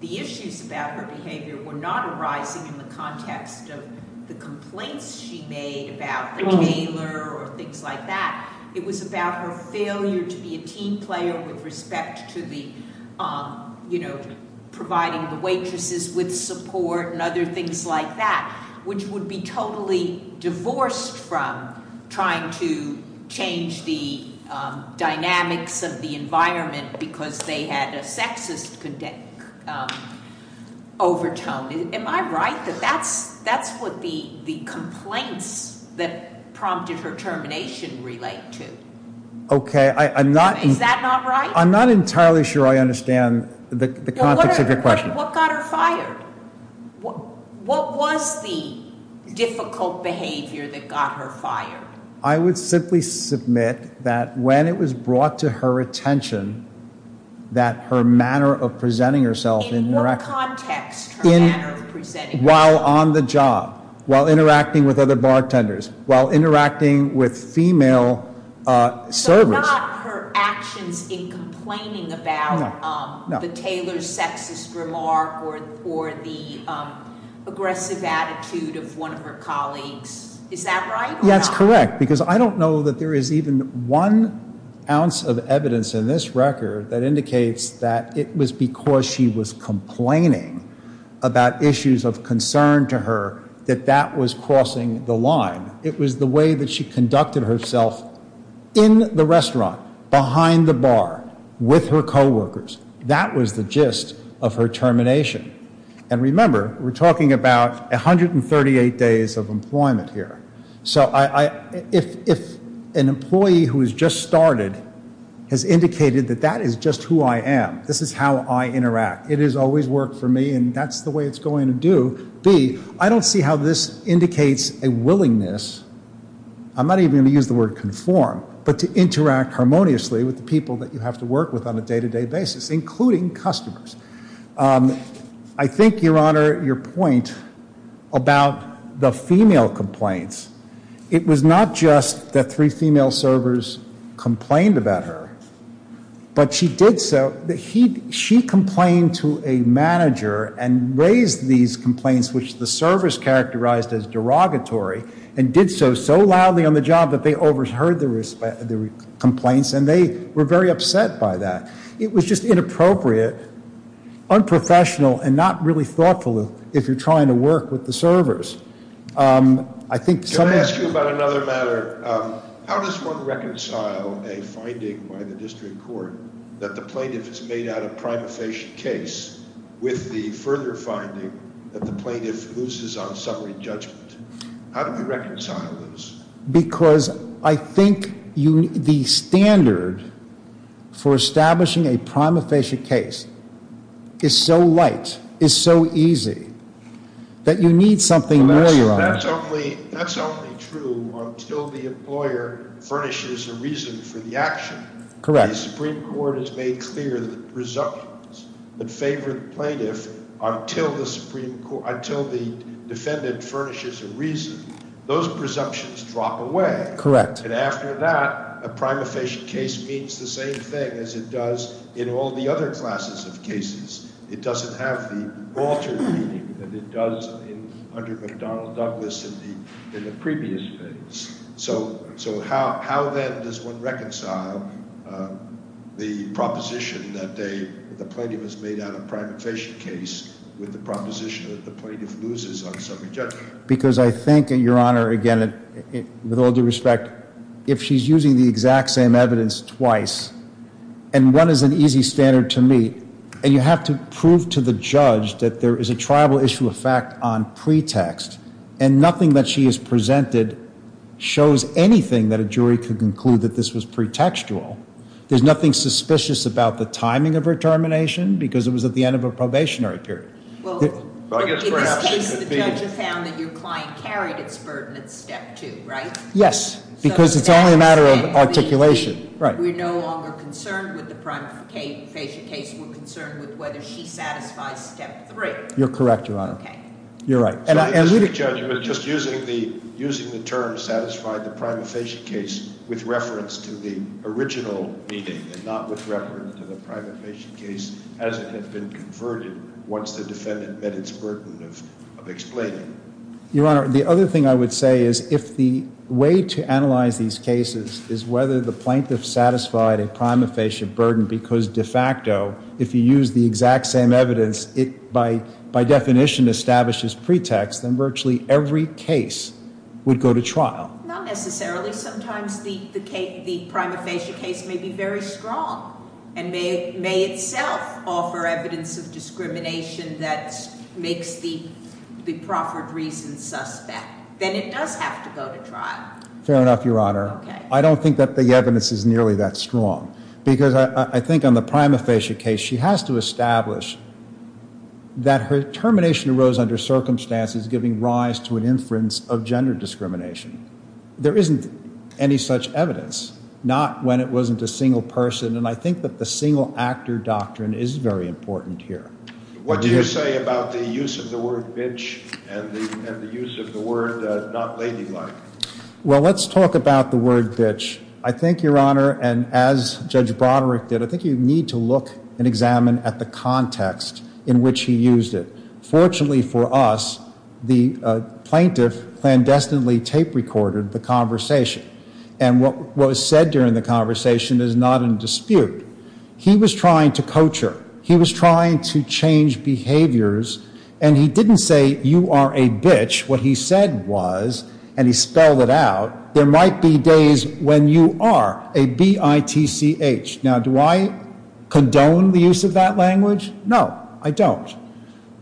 the issues about her behavior were not arising in the context of the complaints she made about the tailor or things like that. It was about her failure to be a team player with respect to the, you know, providing the waitresses with support and other things like that, which would be totally divorced from trying to change the dynamics of the environment because they had a sexist overtone. Am I right that that's what the complaints that prompted her termination relate to? Okay, I'm not- Is that not right? I'm not entirely sure I understand the context of your question. What got her fired? What was the difficult behavior that got her fired? I would simply submit that when it was brought to her attention that her manner of presenting herself- In what context, her manner of presenting herself? While on the job, while interacting with other bartenders, while interacting with female servants- Not her actions in complaining about the tailor's sexist remark or the aggressive attitude of one of her colleagues. Is that right or not? That's correct because I don't know that there is even one ounce of evidence in this record that indicates that it was because she was complaining about issues of concern to her that that was crossing the line. It was the way that she conducted herself in the restaurant, behind the bar, with her coworkers. That was the gist of her termination. And remember, we're talking about 138 days of employment here. So if an employee who has just started has indicated that that is just who I am, this is how I interact, it has always worked for me and that's the way it's going to do. I don't see how this indicates a willingness- I'm not even going to use the word conform- but to interact harmoniously with the people that you have to work with on a day-to-day basis, including customers. I think, Your Honor, your point about the female complaints, it was not just that three female servers complained about her, but she did so- she complained to a manager and raised these complaints, which the servers characterized as derogatory, and did so so loudly on the job that they overheard the complaints and they were very upset by that. It was just inappropriate, unprofessional, and not really thoughtful if you're trying to work with the servers. Can I ask you about another matter? How does one reconcile a finding by the district court that the plaintiff has made out a prima facie case with the further finding that the plaintiff loses on summary judgment? How do we reconcile those? Because I think the standard for establishing a prima facie case is so light, is so easy, that you need something more, Your Honor. That's only true until the employer furnishes a reason for the action. Correct. The Supreme Court has made clear the presumptions that favor the plaintiff until the defendant furnishes a reason. Those presumptions drop away. Correct. And after that, a prima facie case means the same thing as it does in all the other classes of cases. It doesn't have the Walter meaning that it does under McDonnell Douglas in the previous case. So how, then, does one reconcile the proposition that the plaintiff has made out a prima facie case with the proposition that the plaintiff loses on summary judgment? Because I think, Your Honor, again, with all due respect, if she's using the exact same evidence twice, and one is an easy standard to meet, and you have to prove to the judge that there is a triable issue of fact on pretext, and nothing that she has presented shows anything that a jury could conclude that this was pretextual. There's nothing suspicious about the timing of her termination, because it was at the end of a probationary period. Well, in this case, the judge has found that your client carried its burden at step two, right? Yes, because it's only a matter of articulation. We're no longer concerned with the prima facie case. We're concerned with whether she satisfies step three. You're correct, Your Honor. OK. You're right. Sorry, Mr. Judge, but just using the term satisfy the prima facie case with reference to the original meaning, and not with reference to the prima facie case as it had been converted once the defendant met its burden of explaining. Your Honor, the other thing I would say is if the way to analyze these cases is whether the plaintiff satisfied a prima facie burden, because de facto, if you use the exact same evidence, it by definition establishes pretext, then virtually every case would go to trial. Not necessarily. Sometimes the prima facie case may be very strong, and may itself offer evidence of discrimination that makes the proffered reason suspect. Then it does have to go to trial. Fair enough, Your Honor. OK. I don't think that the evidence is nearly that strong, because I think on the prima facie case, she has to establish that her termination arose under circumstances giving rise to an inference of gender discrimination. There isn't any such evidence, not when it wasn't a single person. And I think that the single actor doctrine is very important here. What do you say about the use of the word bitch and the use of the word not ladylike? Well, let's talk about the word bitch. I think, Your Honor, and as Judge Broderick did, I think you need to look and examine at the context in which he used it. Fortunately for us, the plaintiff clandestinely tape recorded the conversation. And what was said during the conversation is not in dispute. He was trying to coach her. He was trying to change behaviors. And he didn't say, you are a bitch. What he said was, and he spelled it out, there might be days when you are a B-I-T-C-H. Now, do I condone the use of that language? No, I don't.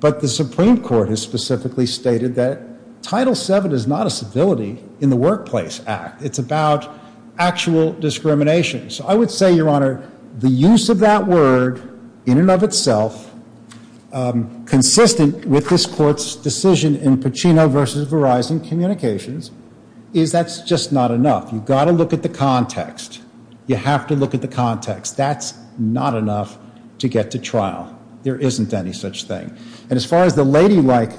But the Supreme Court has specifically stated that Title VII is not a civility in the Workplace Act. It's about actual discrimination. So I would say, Your Honor, the use of that word in and of itself, consistent with this court's decision in Pacino v. Verizon Communications, is that's just not enough. You've got to look at the context. You have to look at the context. That's not enough to get to trial. There isn't any such thing. And as far as the ladylike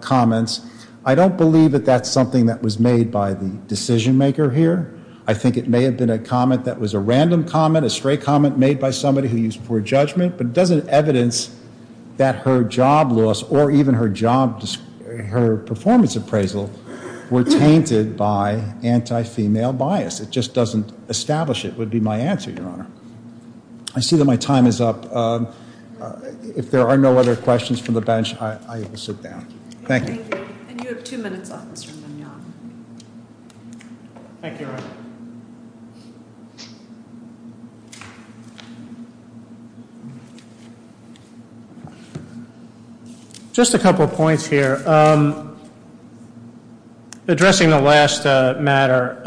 comments, I don't believe that that's something that was made by the decision maker here. I think it may have been a comment that was a random comment, a stray comment made by somebody who used it for judgment. But it doesn't evidence that her job loss or even her performance appraisal were tainted by anti-female bias. It just doesn't establish it would be my answer, Your Honor. I see that my time is up. If there are no other questions from the bench, I will sit down. Thank you. And you have two minutes, Officer Mignogna. Thank you, Your Honor. Just a couple of points here. Addressing the last matter,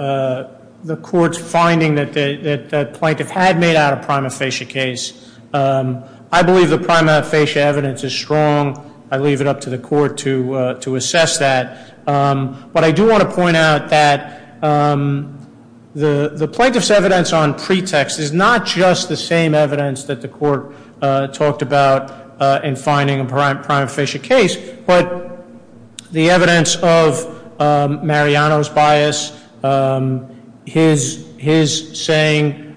the court's finding that the plaintiff had made out a prima facie case. I believe the prima facie evidence is strong. I leave it up to the court to assess that. But I do want to point out that the plaintiff's evidence on pretext is not just the same evidence that the court talked about in finding a prima facie case. But the evidence of Mariano's bias, his saying,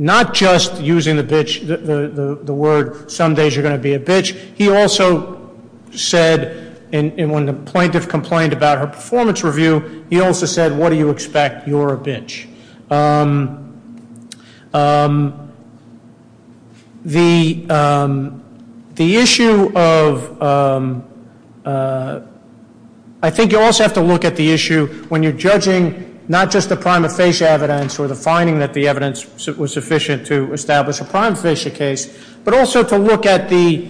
not just using the word, some days you're going to be a bitch. He also said, when the plaintiff complained about her performance review, he also said, what do you expect? You're a bitch. The issue of, I think you also have to look at the issue when you're judging not just the prima facie evidence or the finding that the evidence was sufficient to establish a prima facie case. But also to look at the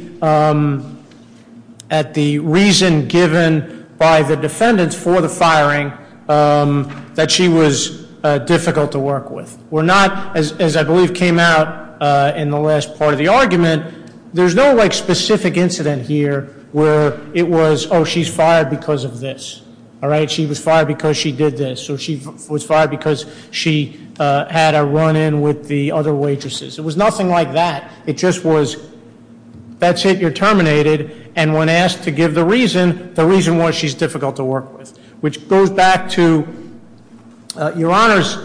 reason given by the defendants for the firing that she was difficult to work with. We're not, as I believe came out in the last part of the argument, there's no specific incident here where it was, she's fired because of this. All right, she was fired because she did this, or she was fired because she had a run in with the other waitresses. It was nothing like that. It just was, that's it, you're terminated. And when asked to give the reason, the reason was she's difficult to work with. Which goes back to Your Honor's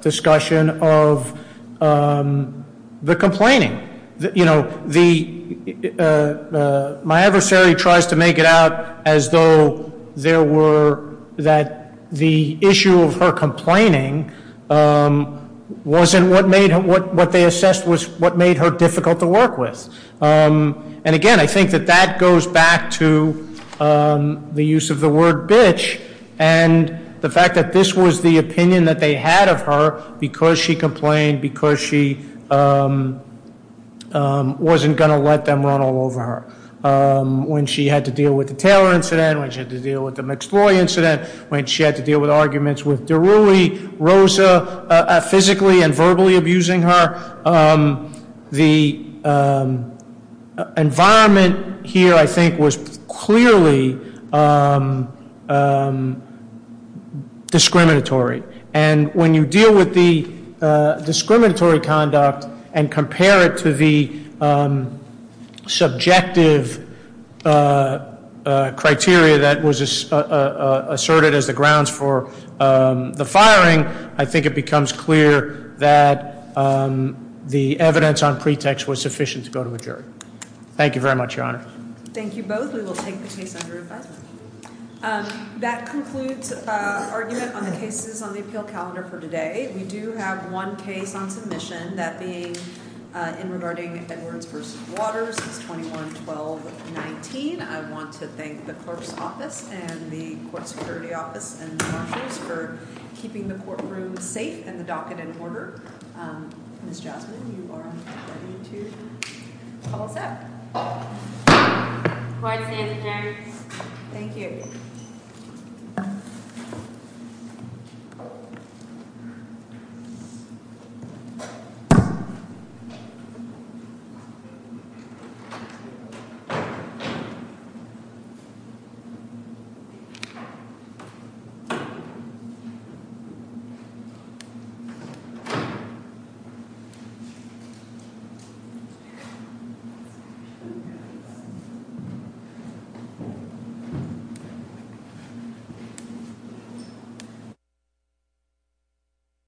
discussion of the complaining. My adversary tries to make it out as though there were, that the issue of her complaining wasn't what made, what they assessed was what made her difficult to work with. And again, I think that that goes back to the use of the word bitch. And the fact that this was the opinion that they had of her because she complained, because she wasn't going to let them run all over her. When she had to deal with the Taylor incident, when she had to deal with the McSloy incident, when she had to deal with arguments with Deruli, Rosa, physically and verbally abusing her. The environment here, I think, was clearly discriminatory, and when you deal with the discriminatory conduct and compare it to the subjective criteria that was asserted as the grounds for the firing. I think it becomes clear that the evidence on pretext was sufficient to go to a jury. Thank you very much, Your Honor. Thank you both. We will take the case under advisement. That concludes argument on the cases on the appeal calendar for today. We do have one case on submission, that being in regarding Edwards versus Waters. It's 21-12-19. I want to thank the clerk's office and the court security office and marshals for keeping the courtroom safe and the docket in order. Ms. Jasmine, you are ready to call us out. Court is adjourned. Thank you.